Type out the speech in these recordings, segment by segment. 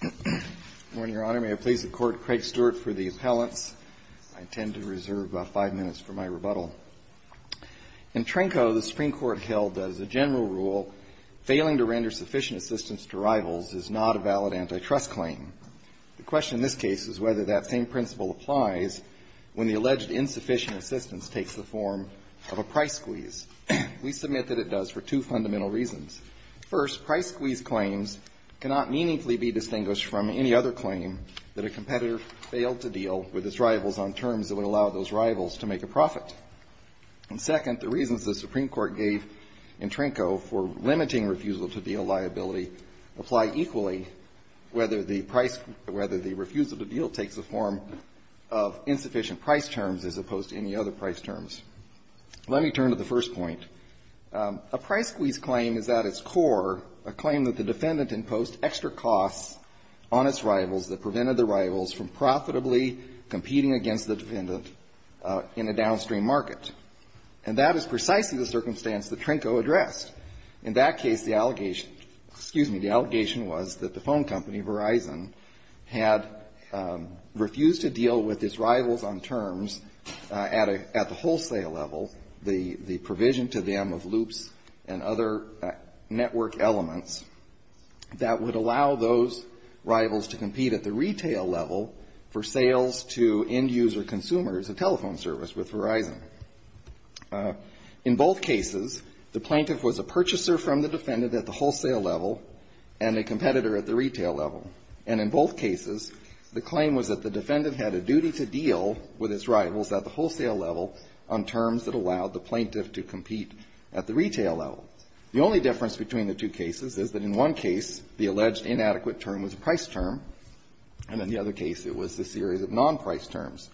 Good morning, Your Honor. May it please the Court, Craig Stewart for the appellants. I intend to reserve five minutes for my rebuttal. In Tranko, the Supreme Court held as a general rule, failing to render sufficient assistance to rivals is not a valid antitrust claim. The question in this case is whether that same principle applies when the alleged insufficient assistance takes the form of a price squeeze. We submit that it does for two fundamental reasons. First, price squeeze claims cannot meaningfully be distinguished from any other claim that a competitor failed to deal with its rivals on terms that would allow those rivals to make a profit. And second, the reasons the Supreme Court gave in Tranko for limiting refusal to deal liability apply equally whether the price — whether the refusal to deal takes the form of insufficient price terms as opposed to any other price terms. Let me turn to the first point. A price squeeze claim is at its core a claim that the defendant imposed extra costs on its rivals that prevented the rivals from profitably competing against the defendant in a downstream market. And that is precisely the circumstance that Tranko addressed. In that case, the allegation — excuse me — the allegation was that the phone company, Verizon, had refused to deal with its rivals on terms at a — at the wholesale level, the provision to them of loops and other network elements that would allow those rivals to compete at the retail level for sales to end-user consumers, a telephone service with Verizon. In both cases, the plaintiff was a purchaser from the defendant at the wholesale level and a competitor at the retail level. And in both cases, the claim was that the defendant had a duty to deal with its rivals at the wholesale level on terms that allowed the plaintiff to compete at the retail level. The only difference between the two cases is that in one case, the alleged inadequate term was a price term, and in the other case, it was a series of non-price terms.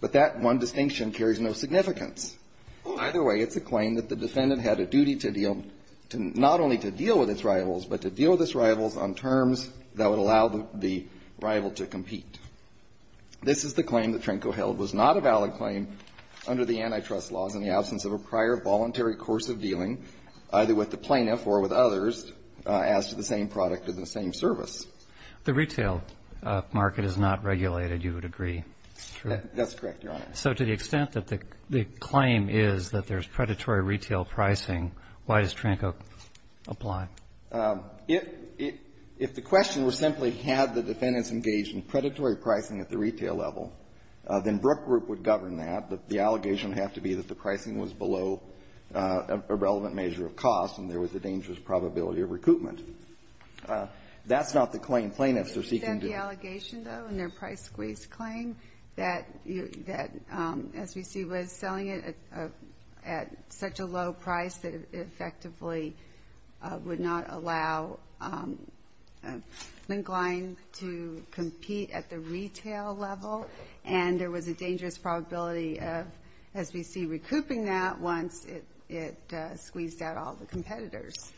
But that one distinction carries no significance. Either way, it's a claim that the defendant had a duty to deal — not only to deal with its rivals, but to deal with its rivals on terms that would allow the rival to compete. This is the claim that Tranko held. It was not a valid claim under the antitrust laws in the absence of a prior voluntary course of dealing, either with the plaintiff or with others, as to the same product or the same service. The retail market is not regulated, you would agree. That's correct, Your Honor. So to the extent that the claim is that there's predatory retail pricing, why does Tranko apply? If the question was simply had the defendants engaged in predatory pricing at the retail level, then Brook Group would govern that. The allegation would have to be that the pricing was below a relevant measure of cost and there was a dangerous probability of recoupment. That's not the claim plaintiffs are seeking to do. Isn't that the allegation, though, in their price squeeze claim, that you — that SBC was selling it at such a low price that it effectively would not allow Linkline to compete at the retail level, and there was a dangerous probability of SBC recouping that once it — it squeezed out all the competitors?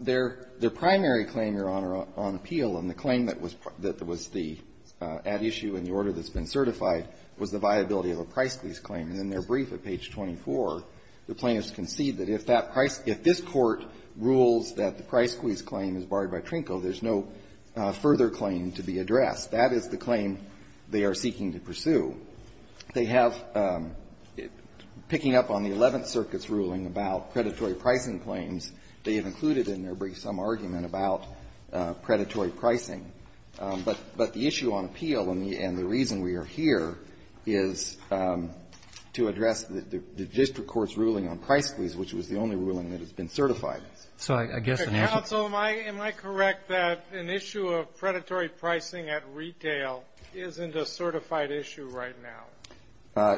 Their — their primary claim, Your Honor, on Peel and the claim that was — that was the ad issue and the order that's been certified was the viability of a price squeeze claim. And in their brief at page 24, the plaintiffs concede that if that price — if this Court rules that the price squeeze claim is barred by Tranko, there's no further claim to be addressed. That is the claim they are seeking to pursue. They have, picking up on the Eleventh Circuit's ruling about predatory pricing claims, they have included in their brief some argument about predatory pricing. But — but the issue on Peel and the — and the reason we are here is to address the district court's ruling on price squeeze, which was the only ruling that has been certified. So I — I guess the national — Counsel, am I — am I correct that an issue of predatory pricing at retail isn't a certified issue right now?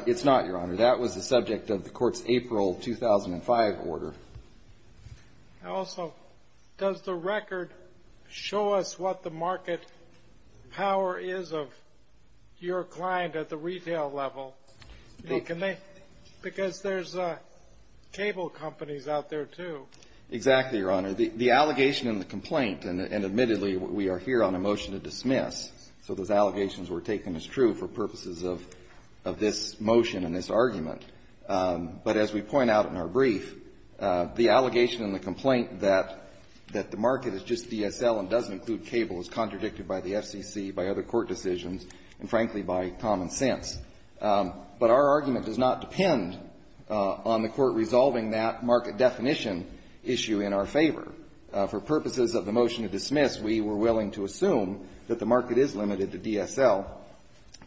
It's not, Your Honor. That was the subject of the Court's April 2005 order. Also, does the record show us what the market power is of your client at the retail level? Can they — because there's cable companies out there, too. Exactly, Your Honor. The — the allegation in the complaint — and admittedly, we are here on a motion to dismiss, so those allegations were taken as true for purposes of — of this motion and this argument. But as we point out in our brief, the allegation in the complaint that — that the market is just DSL and doesn't include cable is contradicted by the FCC, by other court decisions, and frankly, by common sense. But our argument does not depend on the Court resolving that market definition issue in our favor. For purposes of the motion to dismiss, we were willing to assume that the market is limited to DSL,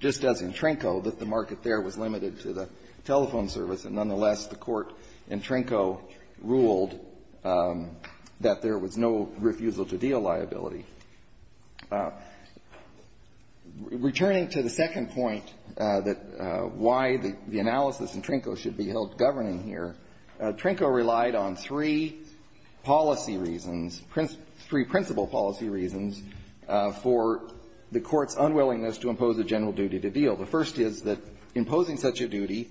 just as in Trenko, that the market there was limited to the telephone service. And nonetheless, the Court in Trenko ruled that there was no refusal to deal liability. Returning to the second point that — why the analysis in Trenko should be held governing here, Trenko relied on three policy reasons, three principal policy reasons for the Court's unwillingness to impose a general duty to deal. The first is that imposing such a duty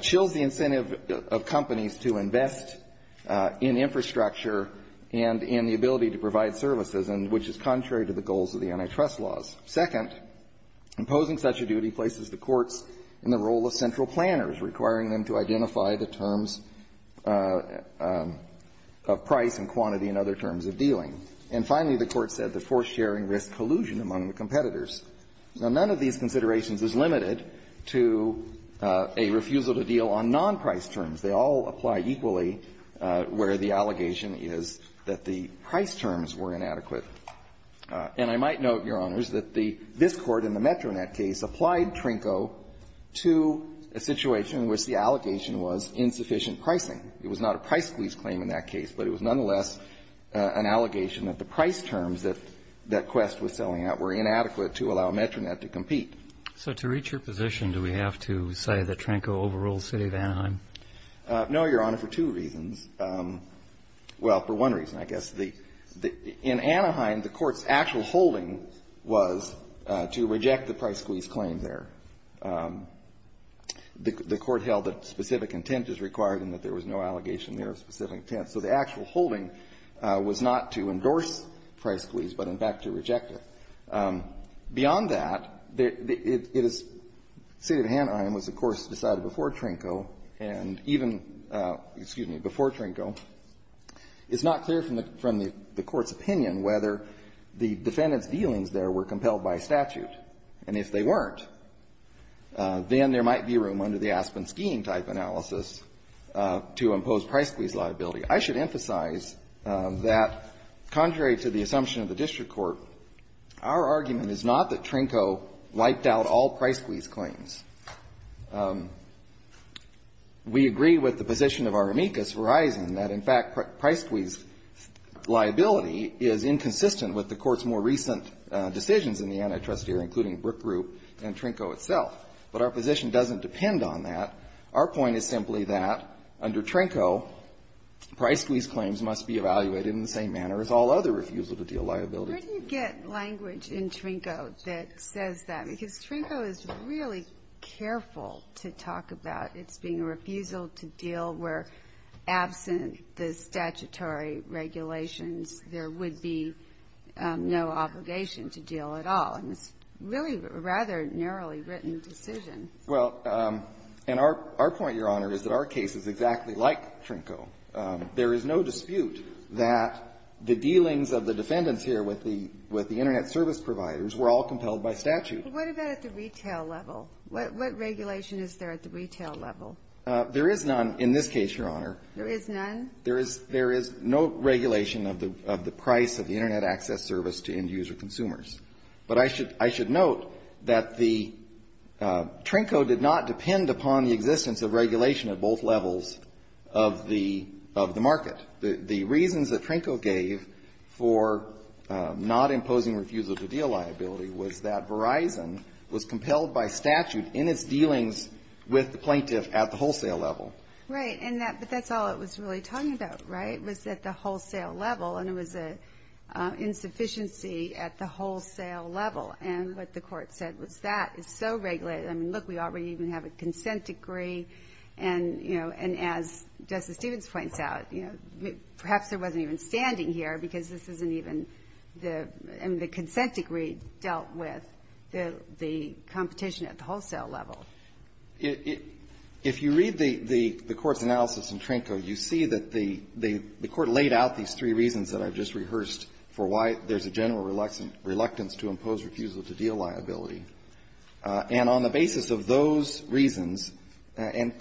chills the incentive of companies to invest in infrastructure and in the ability to provide services, which is contrary to the goals of the antitrust laws. Second, imposing such a duty places the courts in the role of central planners, requiring them to identify the terms of price and quantity and other terms of dealing. And finally, the Court said that forced sharing risks collusion among the competitors. Now, none of these considerations is limited to a refusal to deal on non-price terms. They all apply equally where the allegation is that the price terms were inadequate. And I might note, Your Honors, that the — this Court in the Metronet case applied Trenko to a situation in which the allegation was insufficient pricing. It was not a price squeeze claim in that case, but it was nonetheless an allegation that the price terms that Quest was selling out were inadequate to allow Metronet to compete. So to reach your position, do we have to say that Trenko overruled the City of Anaheim? No, Your Honor, for two reasons. Well, for one reason, I guess. In Anaheim, the Court's actual holding was to reject the price squeeze claim there. The Court held that specific intent is required and that there was no allegation there of specific intent. So the actual holding was not to endorse price squeeze, but, in fact, to reject it. Beyond that, it is — City of Anaheim was, of course, decided before Trenko, and even, excuse me, before Trenko, it's not clear from the Court's opinion whether the defendant's dealings there were compelled by statute. And if they weren't, then there might be room under the Aspen skiing type analysis to impose price squeeze liability. I should emphasize that, contrary to the assumption of the district court, our argument is not that Trenko wiped out all price squeeze claims. We agree with the position of our amicus horizon that, in fact, price squeeze liability is inconsistent with the Court's more recent decisions in the antitrust sphere, including Brook Group and Trenko itself. But our position doesn't depend on that. Our point is simply that, under Trenko, price squeeze claims must be evaluated in the same manner as all other refusal-to-deal liabilities. Where do you get language in Trenko that says that? Because Trenko is really careful to talk about its being a refusal to deal where, absent the statutory regulations, there would be no obligation to deal at all. And it's really a rather narrowly written decision. Well, and our point, Your Honor, is that our case is exactly like Trenko. There is no dispute that the dealings of the defendants here with the Internet service providers were all compelled by statute. What about at the retail level? What regulation is there at the retail level? There is none in this case, Your Honor. There is none? There is no regulation of the price of the Internet access service to end-user consumers. But I should note that the – Trenko did not depend upon the existence of regulation at both levels of the market. The reasons that Trenko gave for not imposing refusal-to-deal liability was that Verizon was compelled by statute in its dealings with the plaintiff at the wholesale level. Right. And that's all it was really talking about, right, was at the wholesale level. And it was an insufficiency at the wholesale level. And what the Court said was, that is so regulated. I mean, look, we already even have a consent degree. And, you know, and as Justice Stevens points out, you know, perhaps there wasn't even standing here, because this isn't even the – I mean, the consent degree dealt with the competition at the wholesale level. If you read the Court's analysis in Trenko, you see that the Court laid out these three reasons that I've just rehearsed for why there's a general reluctance to impose refusal-to-deal liability. And on the basis of those reasons, and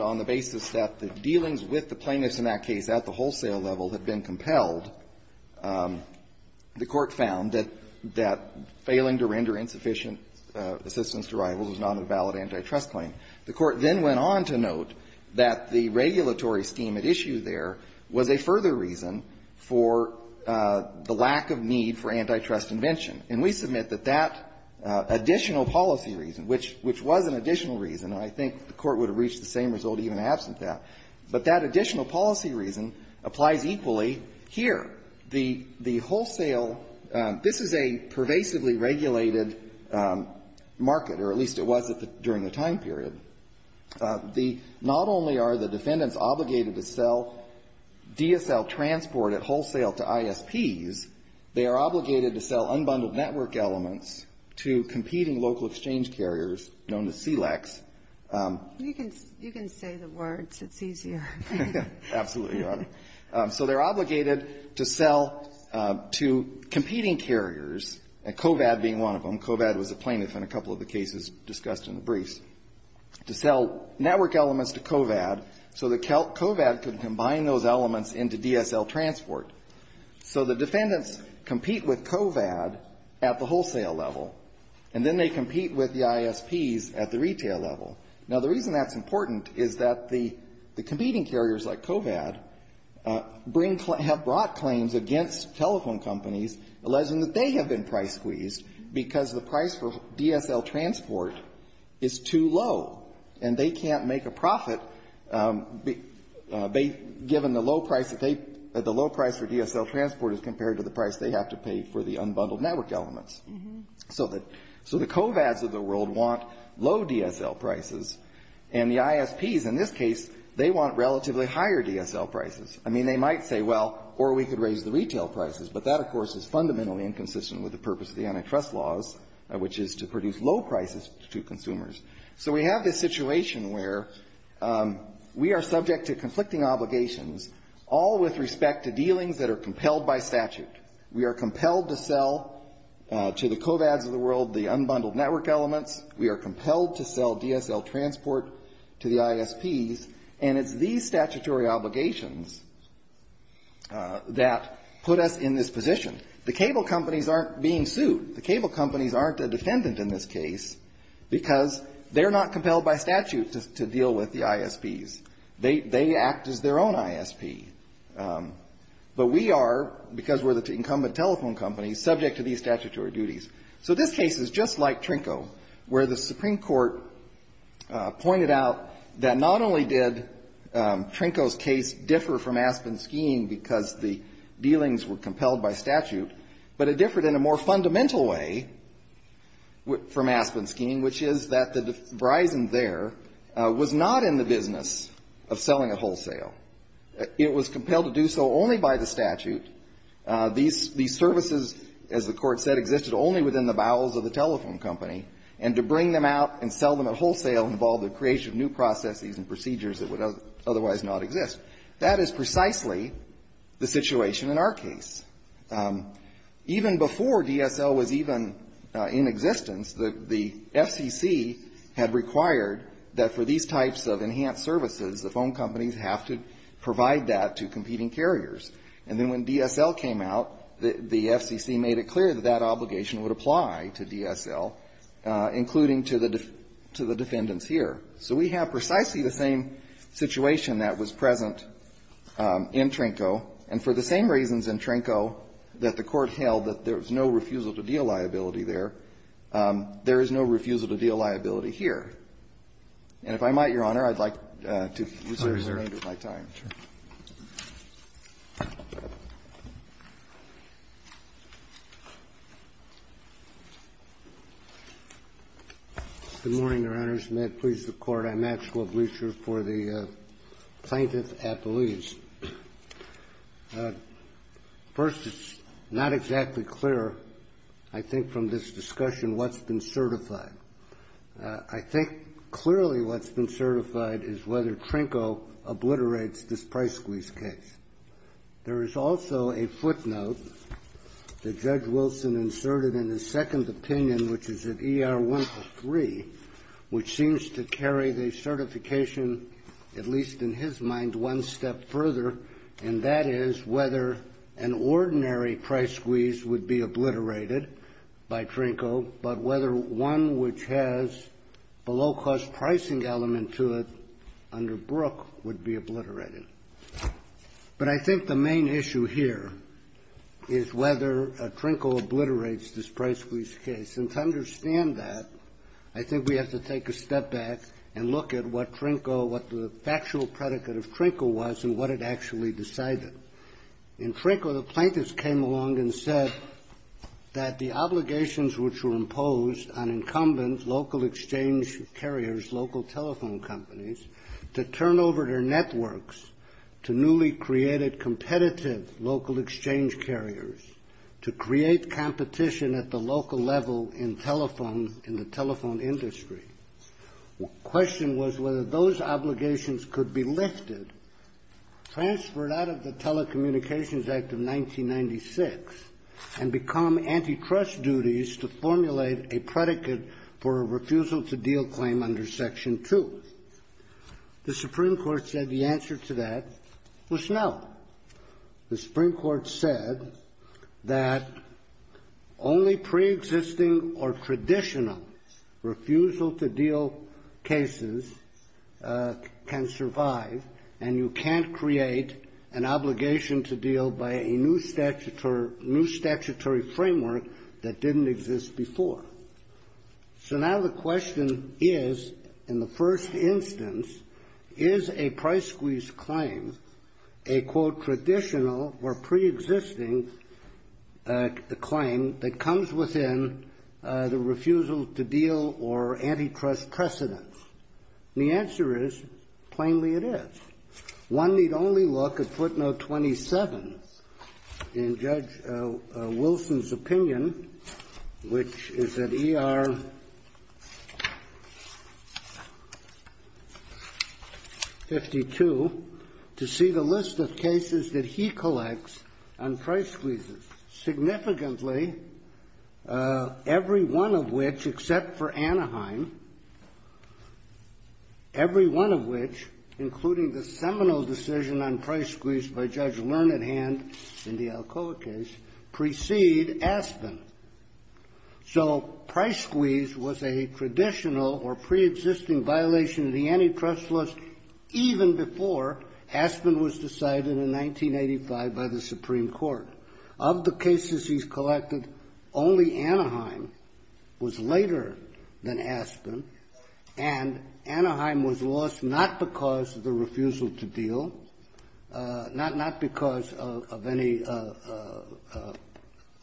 on the basis that the dealings with the plaintiffs in that case at the wholesale level had been compelled, the Court found that failing to render insufficient assistance to rivals was not a valid antitrust claim. The Court then went on to note that the regulatory scheme at issue there was a further reason for the lack of need for antitrust invention. And we submit that that additional policy reason, which was an additional reason, and I think the Court would have reached the same result even absent that, but that additional policy reason applies equally here. The wholesale – this is a pervasively regulated market, or at least it was during the time period. The – not only are the defendants obligated to sell DSL transport at wholesale to ISPs, they are obligated to sell unbundled network elements to competing local exchange carriers known as CLECs. You can – you can say the words. It's easier. Absolutely, Your Honor. So they're obligated to sell to competing carriers, COVAD being one of them. COVAD was a plaintiff in a couple of the cases discussed in the briefs. They were obligated to sell network elements to COVAD so that COVAD could combine those elements into DSL transport. So the defendants compete with COVAD at the wholesale level, and then they compete with the ISPs at the retail level. Now, the reason that's important is that the competing carriers like COVAD bring – have brought claims against telephone companies alleging that they have been price-squeezed because the price for DSL transport is too low, and they can't make a profit given the low price that they – the low price for DSL transport as compared to the price they have to pay for the unbundled network elements. So the – so the COVADs of the world want low DSL prices, and the ISPs in this case, they want relatively higher DSL prices. I mean, they might say, well, or we could raise the retail prices. But that, of course, is fundamentally inconsistent with the purpose of the antitrust laws, which is to produce low prices to consumers. So we have this situation where we are subject to conflicting obligations, all with respect to dealings that are compelled by statute. We are compelled to sell to the COVADs of the world the unbundled network elements. We are compelled to sell DSL transport to the ISPs. And it's these statutory obligations that put us in this position. The cable companies aren't being sued. The cable companies aren't a defendant in this case because they're not compelled by statute to deal with the ISPs. They act as their own ISP. But we are, because we're the incumbent telephone company, subject to these statutory duties. So this case is just like Trinco, where the Supreme Court pointed out that not only did Trinco's case differ from Aspen's scheme because the dealings were compelled by statute, but it differed in a more fundamental way from Aspen's scheme, which is that the de Vriesen there was not in the business of selling at wholesale. It was compelled to do so only by the statute. These services, as the Court said, existed only within the bowels of the telephone company. And to bring them out and sell them at wholesale involved the creation of new processes and procedures that would otherwise not exist. That is precisely the situation in our case. Even before DSL was even in existence, the FCC had required that for these types of enhanced services, the phone companies have to provide that to competing carriers. And then when DSL came out, the FCC made it clear that that obligation would apply to DSL, including to the defendants here. So we have precisely the same situation that was present in Trinco, and for the same reasons in Trinco that the Court held that there was no refusal-to-deal liability there, there is no refusal-to-deal liability here. And if I might, Your Honor, I'd like to use the rest of my time. Thank you, Your Honor. Good morning, Your Honors. May it please the Court, I'm Maxwell Bleacher for the Plaintiff Appellees. First, it's not exactly clear, I think, from this discussion what's been certified. I think clearly what's been certified is whether Trinco obliterates this price squeeze case. There is also a footnote that Judge Wilson inserted in his second opinion, which is at ER-103, which seems to carry the certification, at least in his mind, one step further, and that is whether an ordinary price squeeze would be obliterated by Trinco, but whether one which has a low-cost pricing element to it under Brooke would be obliterated. But I think the main issue here is whether Trinco obliterates this price squeeze case. And to understand that, I think we have to take a step back and look at what Trinco or what the factual predicate of Trinco was and what it actually decided. In Trinco, the plaintiffs came along and said that the obligations which were imposed on incumbent local exchange carriers, local telephone companies, to turn over their networks to newly created competitive local exchange carriers, to create competition at the local level in telephone, in the telephone industry, the question was whether those obligations could be lifted, transferred out of the Telecommunications Act of 1996, and become antitrust duties to formulate a predicate for a refusal to deal claim under Section 2. The Supreme Court said the answer to that was no. The Supreme Court said that only preexisting or traditional refusal to deal cases can survive, and you can't create an obligation to deal by a new statutory framework that didn't exist before. So now the question is, in the first instance, is a price squeeze claim a, quote, traditional or preexisting claim that comes within the refusal to deal or antitrust precedent? The answer is, plainly it is. One need only look at footnote 27 in Judge Wilson's opinion, which is at ER 52, to see the list of cases that he collects on price squeezes, significantly every one of which except for Anaheim, every one of which, including the seminal decision on price squeeze by Judge Learned Hand in the Alcoa case, precede Aspen. So price squeeze was a traditional or preexisting violation of the antitrust list even before Aspen was decided in 1985 by the Supreme Court. Of the cases he's collected, only Anaheim was later than Aspen, and Anaheim was lost not because of the refusal to deal, not because of any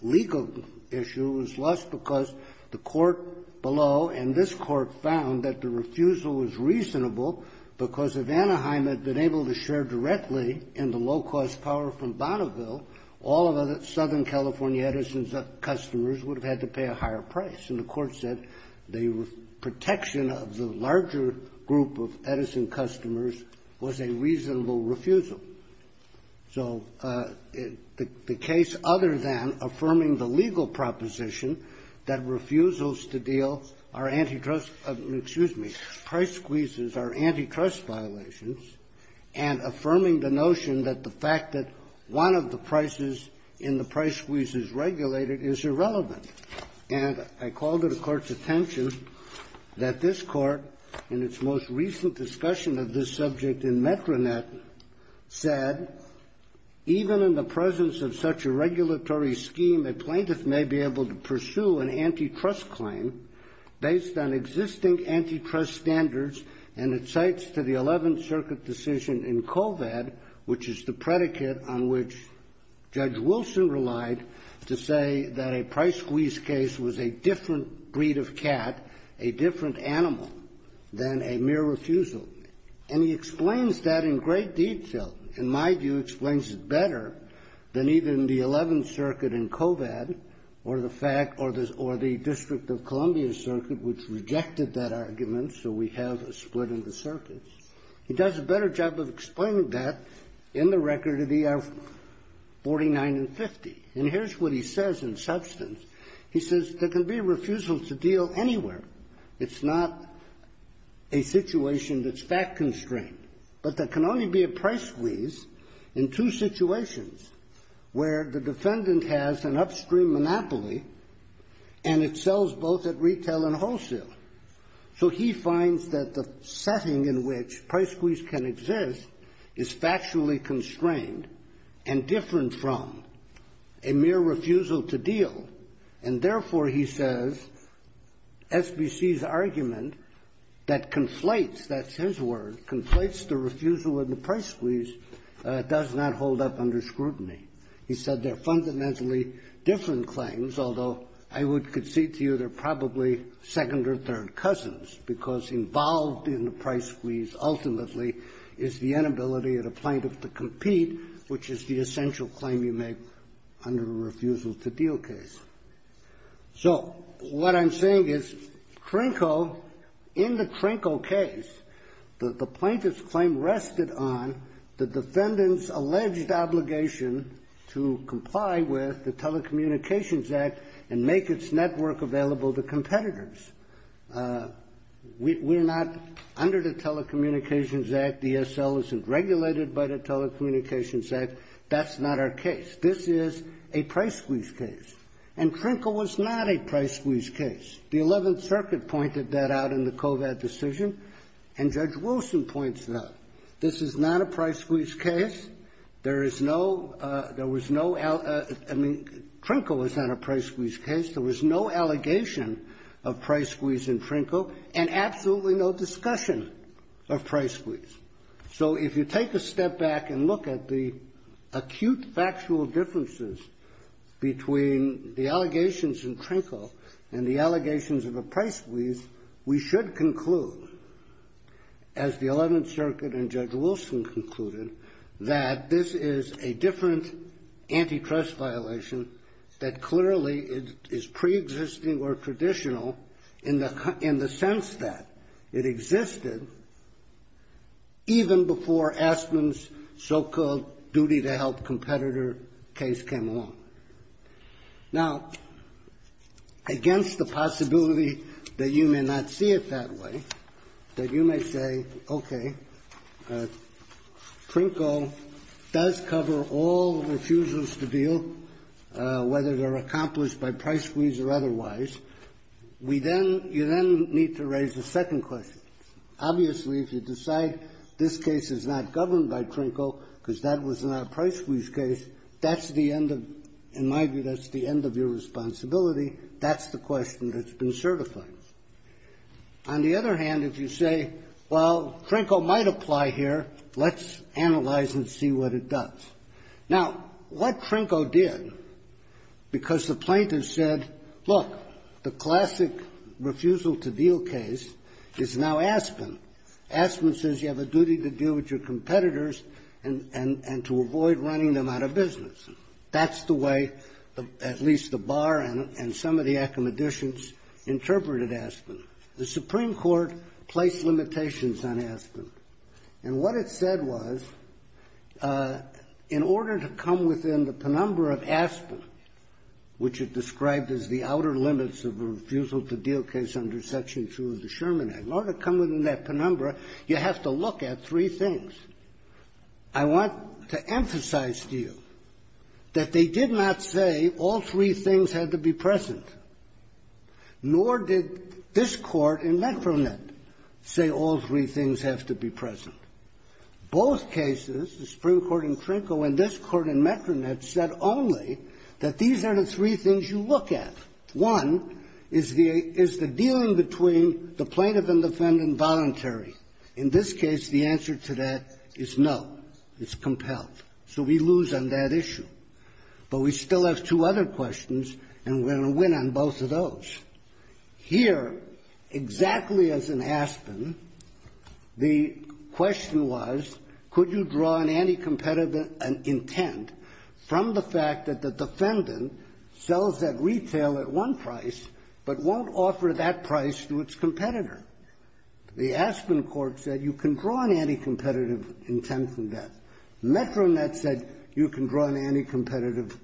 legal issue, it was lost because the court below and this court found that the refusal was reasonable because if Anaheim had been able to share directly in the low-cost power from Southern California Edison's customers would have had to pay a higher price. And the court said the protection of the larger group of Edison customers was a reasonable refusal. So the case other than affirming the legal proposition that refusals to deal are antitrust, excuse me, price squeezes are antitrust violations, and affirming the notion that the fact that one of the prices in the price squeeze is regulated is irrelevant. And I called to the court's attention that this court in its most recent discussion of this subject in Metronet said, even in the presence of such a regulatory scheme, a plaintiff may be able to pursue an antitrust claim based on existing antitrust standards and it cites to the 11th Circuit decision in COVAD, which is the predicate on which Judge Wilson relied to say that a price squeeze case was a different breed of cat, a different animal, than a mere refusal. And he explains that in great detail, in my view, explains it better than even the 11th Circuit in COVAD or the District of Columbia Circuit, which rejected that argument. So we have a split in the circuits. He does a better job of explaining that in the record of ER 49 and 50. And here's what he says in substance. He says there can be a refusal to deal anywhere. It's not a situation that's fact-constrained. But there can only be a price squeeze in two situations where the defendant has an upstream monopoly and it sells both at retail and wholesale. So he finds that the setting in which price squeeze can exist is factually constrained and different from a mere refusal to deal. And therefore, he says, SBC's argument that conflates, that's his word, conflates the refusal of the price squeeze does not hold up under scrutiny. He said they're fundamentally different claims, although I would concede to you they're probably second or third cousins, because involved in the price squeeze ultimately is the inability of the plaintiff to compete, which is the essential claim you make under a refusal to deal case. So what I'm saying is, Trinco, in the Trinco case, the plaintiff's claim rested on the defendant's alleged obligation to comply with the Telecommunications Act and make its network available to competitors. We're not under the Telecommunications Act. DSL isn't regulated by the Telecommunications Act. That's not our case. This is a price squeeze case. And Trinco was not a price squeeze case. The 11th Circuit pointed that out in the COVAD decision. And Judge Wilson points it out. This is not a price squeeze case. There is no, there was no, I mean, Trinco was not a price squeeze case. There was no allegation of price squeeze in Trinco, and absolutely no discussion of price squeeze. So if you take a step back and look at the acute factual differences between the allegations in Trinco and the allegations of a price squeeze, we should conclude, as the 11th Circuit and the COVAD, this is a different antitrust violation that clearly is pre-existing or traditional in the sense that it existed even before Aspen's so-called duty to help competitor case came along. Now, against the possibility that you may not see it that way, that you may say, okay, Trinco does cover all the refusals to deal, whether they're accomplished by price squeeze or otherwise, we then, you then need to raise a second question. Obviously, if you decide this case is not governed by Trinco because that was not a price squeeze case, that's the end of, in my view, that's the end of your responsibility. That's the question that's been certified. On the other hand, if you say, well, Trinco might apply here, let's analyze and see what it does. Now, what Trinco did, because the plaintiff said, look, the classic refusal to deal case is now Aspen. Aspen says you have a duty to deal with your competitors and to avoid running them out of business. That's the way at least the bar and some of the accommodations interpreted Aspen. The Supreme Court placed limitations on Aspen. And what it said was, in order to come within the penumbra of Aspen, which it described as the outer limits of the refusal to deal case under Section 2 of the Sherman Act, in order to come within that penumbra, you have to look at three things. I want to emphasize to you that they did not say all three things had to be present, nor did this Court in Metronet say all three things have to be present. Both cases, the Supreme Court in Trinco and this Court in Metronet, said only that these are the three things you look at. One is the dealing between the plaintiff and defendant voluntary. In this case, the answer to that is no. It's compelled. So we lose on that issue. But we still have two other questions, and we're going to win on both of those. Here, exactly as in Aspen, the question was, could you draw an anticompetitive intent from the fact that the defendant sells that retail at one price but won't offer that price to its competitor? The Aspen Court said you can draw an anticompetitive intent from that. Metronet said you can draw an anticompetitive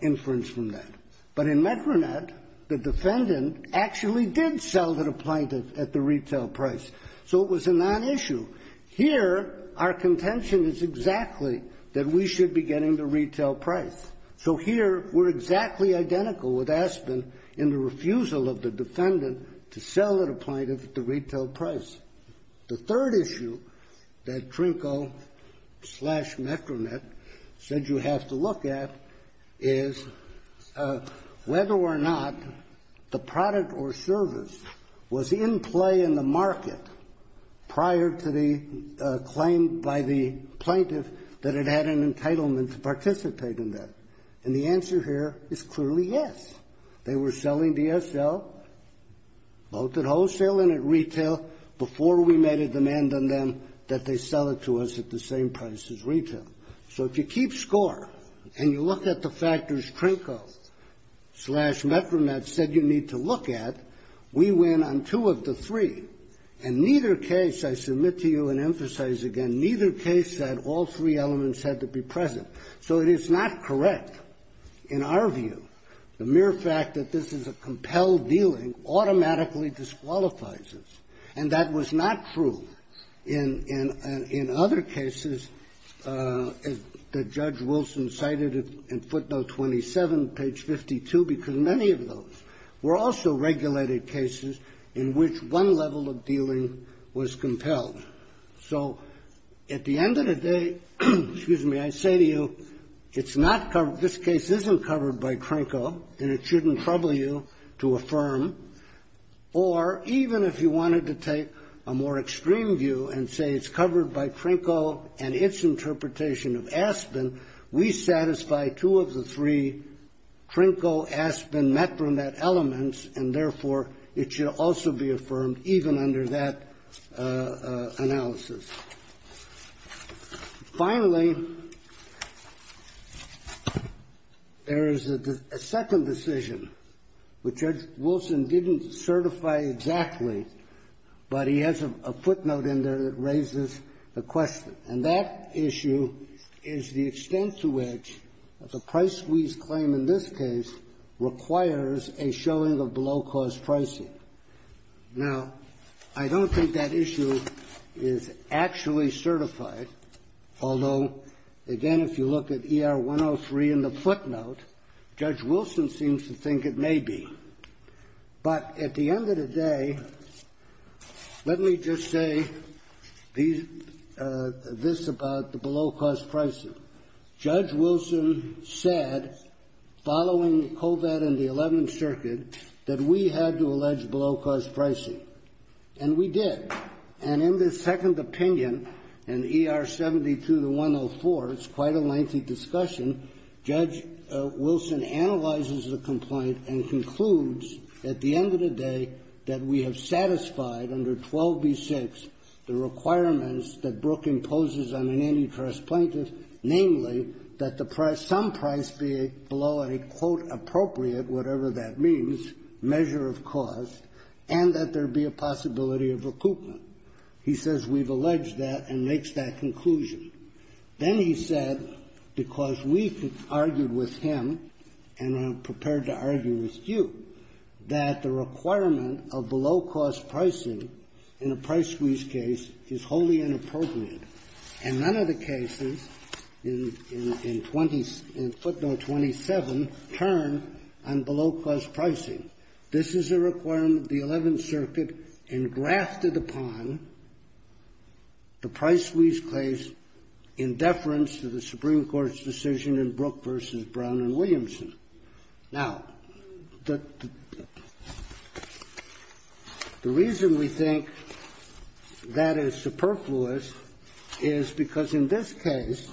inference from that. But in Metronet, the defendant actually did sell to the plaintiff at the retail price, so it was a non-issue. Here, our contention is exactly that we should be getting the retail price. So here, we're exactly identical with Aspen in the refusal of the defendant to sell at a plaintiff at the retail price. The third issue that Trinco slash Metronet said you have to look at is, whether or not the product or service was in play in the market prior to the claim by the plaintiff that it had an entitlement to participate in that. And the answer here is clearly yes. They were selling DSL, both at wholesale and at retail, before we made a demand on them that they sell it to us at the same price as retail. So if you keep score, and you look at the factors Trinco slash Metronet said you need to look at, we win on two of the three. And neither case, I submit to you and emphasize again, neither case said all three elements had to be present. So it is not correct, in our view. The mere fact that this is a compelled dealing automatically disqualifies us. And that was not true in other cases that Judge Wilson cited in footnote 27, page 52. Because many of those were also regulated cases in which one level of dealing was compelled. So at the end of the day, excuse me, I say to you, it's not covered, this case isn't covered by Trinco, and it shouldn't trouble you to affirm. Or even if you wanted to take a more extreme view and say it's covered by Trinco and its interpretation of Aspen, we satisfy two of the three Trinco, Aspen, Metronet elements. And therefore, it should also be affirmed even under that analysis. Finally, there is a second decision, which Judge Wilson didn't certify exactly, but he has a footnote in there that raises the question. And that issue is the extent to which the price squeeze claim in this case requires a showing of below-cost pricing. Now, I don't think that issue is actually certified, although again, if you look at ER 103 in the footnote, Judge Wilson seems to think it may be. But at the end of the day, let me just say this about the below-cost pricing. Judge Wilson said, following COVID in the 11th Circuit, that we had to allege below-cost pricing, and we did. And in the second opinion, in ER 72 to 104, it's quite a lengthy discussion. Judge Wilson analyzes the complaint and concludes at the end of the day that we have satisfied under 12B6 the requirements that Brooke imposes on any trust plaintiff, namely that the price, some price be below a quote, appropriate, whatever that means, measure of cost, and that there be a possibility of recoupment. He says we've alleged that and makes that conclusion. Then he said, because we argued with him, and I'm prepared to argue with you, that the requirement of below-cost pricing in a price squeeze case is wholly inappropriate, and none of the cases in footnote 27 turn on below-cost pricing. This is a requirement the 11th Circuit engrafted upon the price squeeze case in deference to the Supreme Court's decision in Brooke v. Brown v. Williamson. Now, the reason we think that is superfluous to the Supreme Court's decision is because in this case,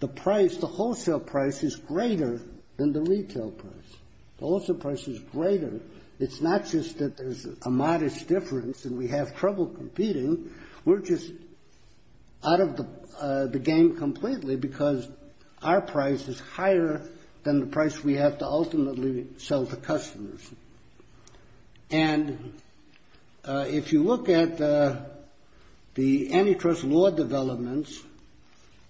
the price, the wholesale price, is greater than the retail price. The wholesale price is greater. It's not just that there's a modest difference and we have trouble competing. We're just out of the game completely, because our price is higher than the price we have to ultimately sell to customers. And if you look at the antitrust law developments,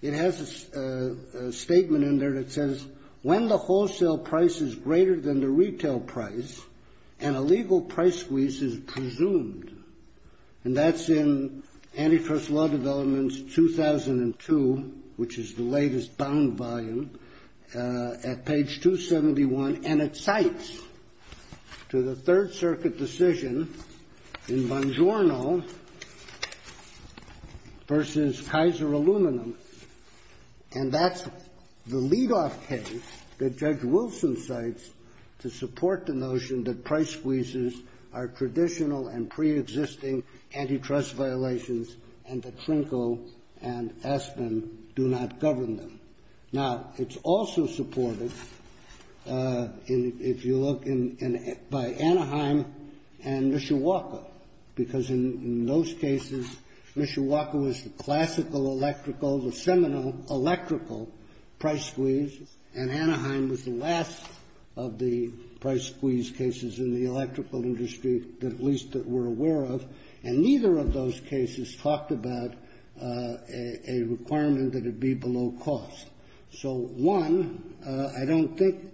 it has a statement in there that says, when the wholesale price is greater than the retail price, an illegal price squeeze is presumed. And that's in Antitrust Law Developments, 2002, which is the latest bound volume, at page 271, and it cites to the Third Circuit decision in Bongiorno v. Kaiser Aluminum, and that's the leadoff case that Judge Wilson cites to support the notion that price squeezes are traditional and preexisting antitrust violations and that Trinco and Aspen do not govern them. Now, it's also supported, if you look, by Anaheim and Mishawaka, because in those cases, Mishawaka was the classical electrical, the seminal electrical price squeeze, and Anaheim was the last of the price squeeze cases in the electrical industry, at least that we're aware of, and neither of those cases talked about a requirement that it be below cost. So, one, I don't think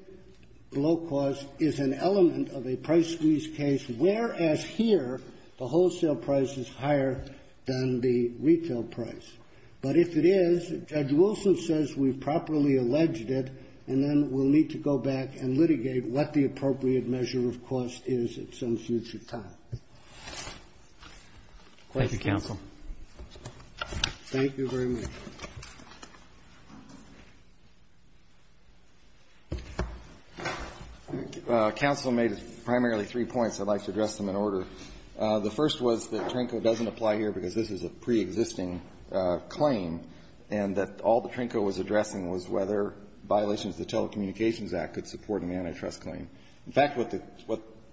below cost is an element of a price squeeze case, whereas here the wholesale price is higher than the retail price. But if it is, Judge Wilson says we've properly alleged it, and then we'll need to go back and litigate what the appropriate measure of cost is at some future time. Thank you, counsel. Thank you very much. Counsel made primarily three points. I'd like to address them in order. The first was that Trinco doesn't apply here because this is a preexisting claim, and that all that Trinco was addressing was whether violations of the Telecommunications Act could support an antitrust claim. In fact, what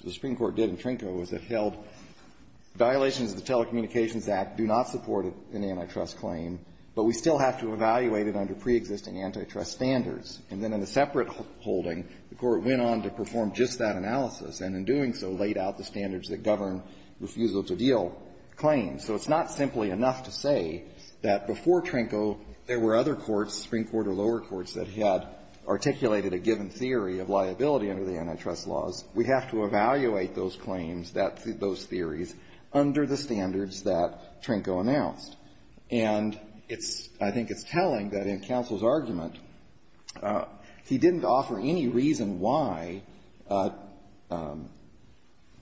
the Supreme Court did in Trinco is it held violations of the Telecommunications Act do not support an antitrust claim, but we still have to evaluate it under preexisting antitrust standards. And then in a separate holding, the Court went on to perform just that analysis and, in doing so, laid out the standards that govern refusal-to-deal claims. So it's not simply enough to say that before Trinco there were other courts, Supreme Court or lower courts, that had articulated a given theory of liability under the antitrust laws. We have to evaluate those claims, those theories, under the standards that Trinco announced. And I think it's telling that in counsel's argument, he didn't offer any reason why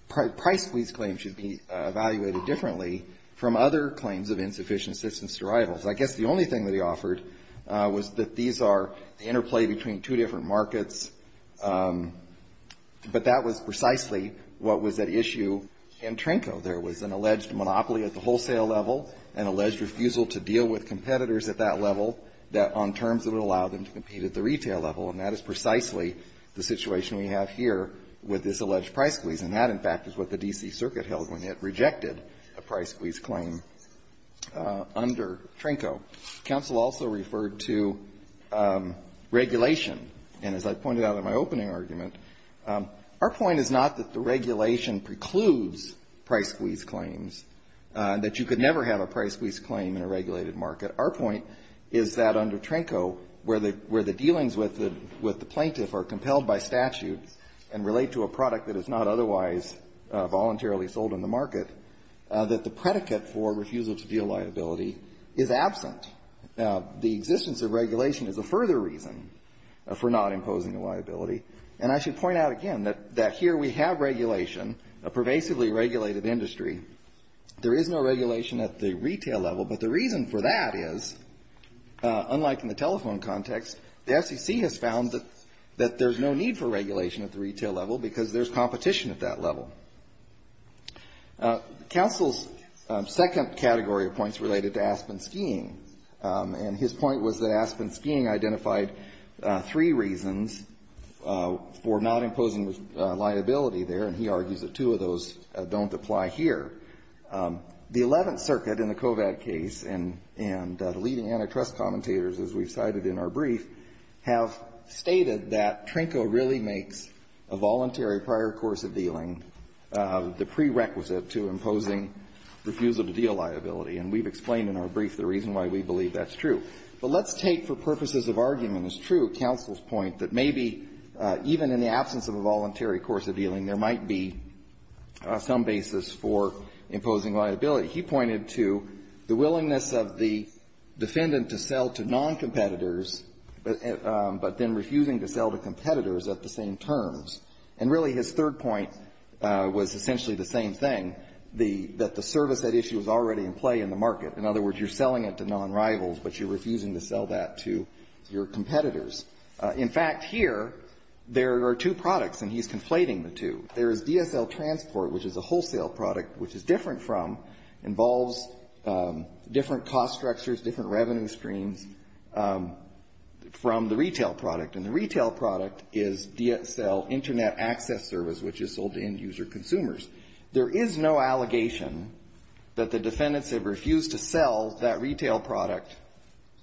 price squeeze claims should be evaluated differently from other claims of insufficient citizens' derivals. I guess the only thing that he offered was that these are the interplay between two different markets, but that was precisely what was at issue in Trinco. There was an alleged monopoly at the wholesale level, an alleged refusal to deal with competitors at that level that, on terms that would allow them to compete at the retail level, and that is precisely the situation we have here with this alleged price squeeze, and that, in fact, is what the D.C. Circuit held when it rejected a price squeeze claim under Trinco. Counsel also referred to regulation, and as I pointed out in my opening argument, our point is not that the regulation precludes price squeeze claims, that you could never have a price squeeze claim in a regulated market. Our point is that under Trinco, where the dealings with the plaintiff are compelled by statute and relate to a product that is not otherwise voluntarily sold in the market, that the predicate for refusal to deal liability is absent. The existence of regulation is a further reason for not imposing a liability. And I should point out again that here we have regulation, a pervasively regulated industry. There is no regulation at the retail level, but the reason for that is, unlike in the telephone context, the SEC has found that there's no need for regulation at the retail level because there's competition at that level. Counsel's second category of points related to Aspen Skiing, and his point was that Aspen Skiing identified three reasons for not imposing liability there, and he argues that two of those don't apply here. The Eleventh Circuit in the COVAD case and the leading antitrust commentators, as we've cited in our brief, have stated that Trinco really makes a voluntary prior course of dealing the prerequisite to imposing refusable deal liability. And we've explained in our brief the reason why we believe that's true. But let's take for purposes of argument as true counsel's point that maybe even in the case of Aspen Skiing, there is some basis for imposing liability. He pointed to the willingness of the defendant to sell to non-competitors, but then refusing to sell to competitors at the same terms. And really his third point was essentially the same thing, that the service at issue is already in play in the market. In other words, you're selling it to non-rivals, but you're refusing to sell that to your competitors. In fact, here, there are two products, and he's conflating the two. There is DSL Transport, which is a wholesale product, which is different from, involves different cost structures, different revenue streams from the retail product. And the retail product is DSL Internet Access Service, which is sold to end-user consumers. There is no allegation that the defendants have refused to sell that retail product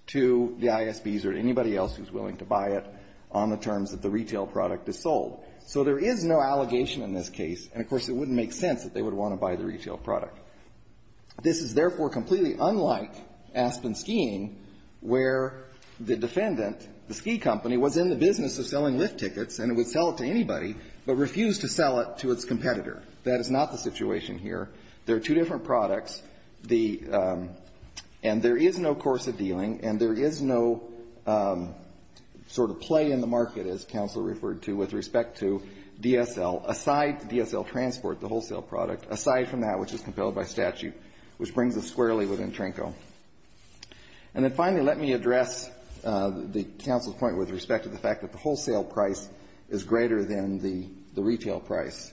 to the ISBs or anybody else who's willing to buy it on the terms that the retail product is sold. So there is no allegation in this case, and, of course, it wouldn't make sense that they would want to buy the retail product. This is, therefore, completely unlike Aspen Skiing, where the defendant, the ski company, was in the business of selling lift tickets, and it would sell it to anybody, but refused to sell it to its competitor. That is not the situation here. There are two different products. The — and there is no course of dealing, and there is no sort of play in the market, as counsel referred to, with respect to DSL, aside DSL Transport, the wholesale product, aside from that which is compelled by statute, which brings us squarely within TRNCO. And then, finally, let me address the counsel's point with respect to the fact that the wholesale price is greater than the retail price.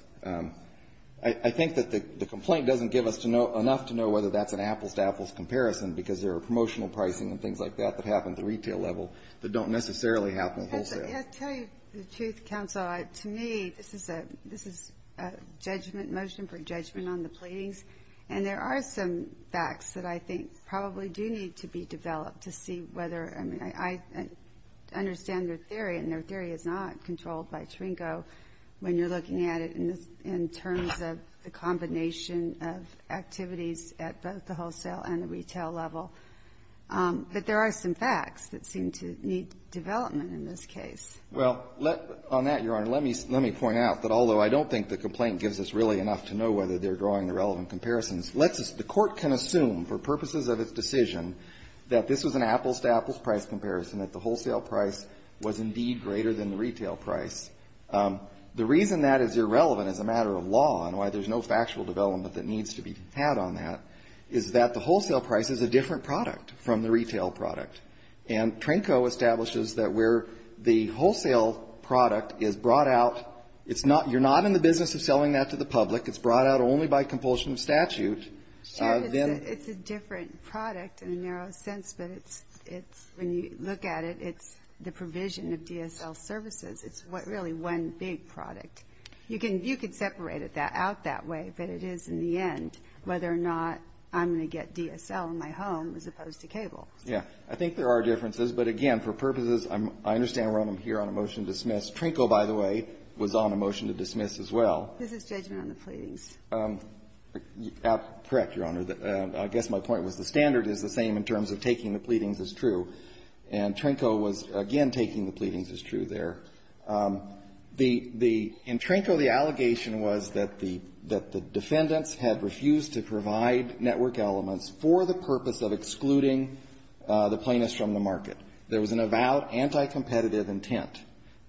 I think that the complaint doesn't give us enough to know whether that's an apples-to-apples comparison, because there are promotional pricing and things like that that happen at the retail level that don't necessarily happen at wholesale. I'll tell you the truth, counsel. To me, this is a judgment motion for judgment on the pleadings, and there are some facts that I think probably do need to be developed to see whether — I mean, I understand their theory, and their theory is not controlled by TRNCO when you're looking at it in terms of the combination of activities at both the wholesale and the retail level. But there are some facts that seem to need development in this case. Well, let — on that, Your Honor, let me — let me point out that although I don't think the complaint gives us really enough to know whether they're drawing the relevant comparisons, let's — the Court can assume for purposes of its decision that this was an apples-to-apples price comparison, that the wholesale price was indeed greater than the retail price. The reason that is irrelevant as a matter of law and why there's no factual development that needs to be had on that is that the wholesale price is a different product from the retail product. And TRNCO establishes that where the wholesale product is brought out, it's not — you're not in the business of selling that to the public. It's brought out only by compulsion of statute. It's a different product in a narrow sense, but it's — when you look at it, it's the provision of DSL services. It's really one big product. You can — you can separate it out that way, but it is, in the end, whether or not I'm going to get DSL in my home as opposed to cable. Yeah. I think there are differences. But again, for purposes — I understand we're on a motion to dismiss. TRNCO, by the way, was on a motion to dismiss as well. This is judgment on the pleadings. Correct, Your Honor. I guess my point was the standard is the same in terms of taking the pleadings as true. And TRNCO was, again, taking the pleadings as true there. The — in TRNCO, the allegation was that the defendants had refused to provide network elements for the purpose of excluding the plaintiffs from the market. There was an avowed anti-competitive intent.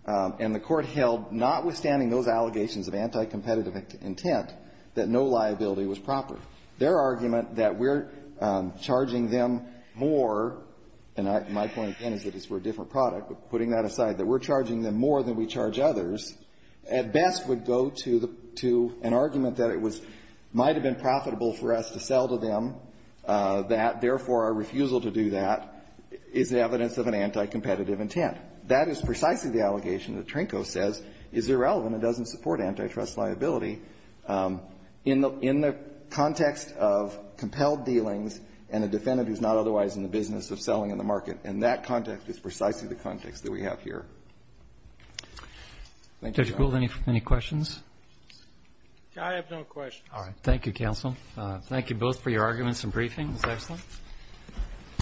And the Court held, notwithstanding those allegations of anti-competitive intent, that no liability was proper. Their argument that we're charging them more — and my point, again, is that it's for a different product, but putting that aside — that we're charging them more than we charge others, at best would go to the — to an argument that it was — might have been profitable for us to sell to them, that, therefore, our refusal to do that is evidence of an anti-competitive intent. That is precisely the allegation that TRNCO says is irrelevant and doesn't support antitrust liability in the — in the context of compelled dealings and a defendant who's not otherwise in the business of selling in the market. And that context is precisely the context that we have here. Thank you, Your Honor. Dr. Gould, any questions? I have no questions. All right. Thank you, counsel. Thank you both for your arguments and briefing. It was excellent.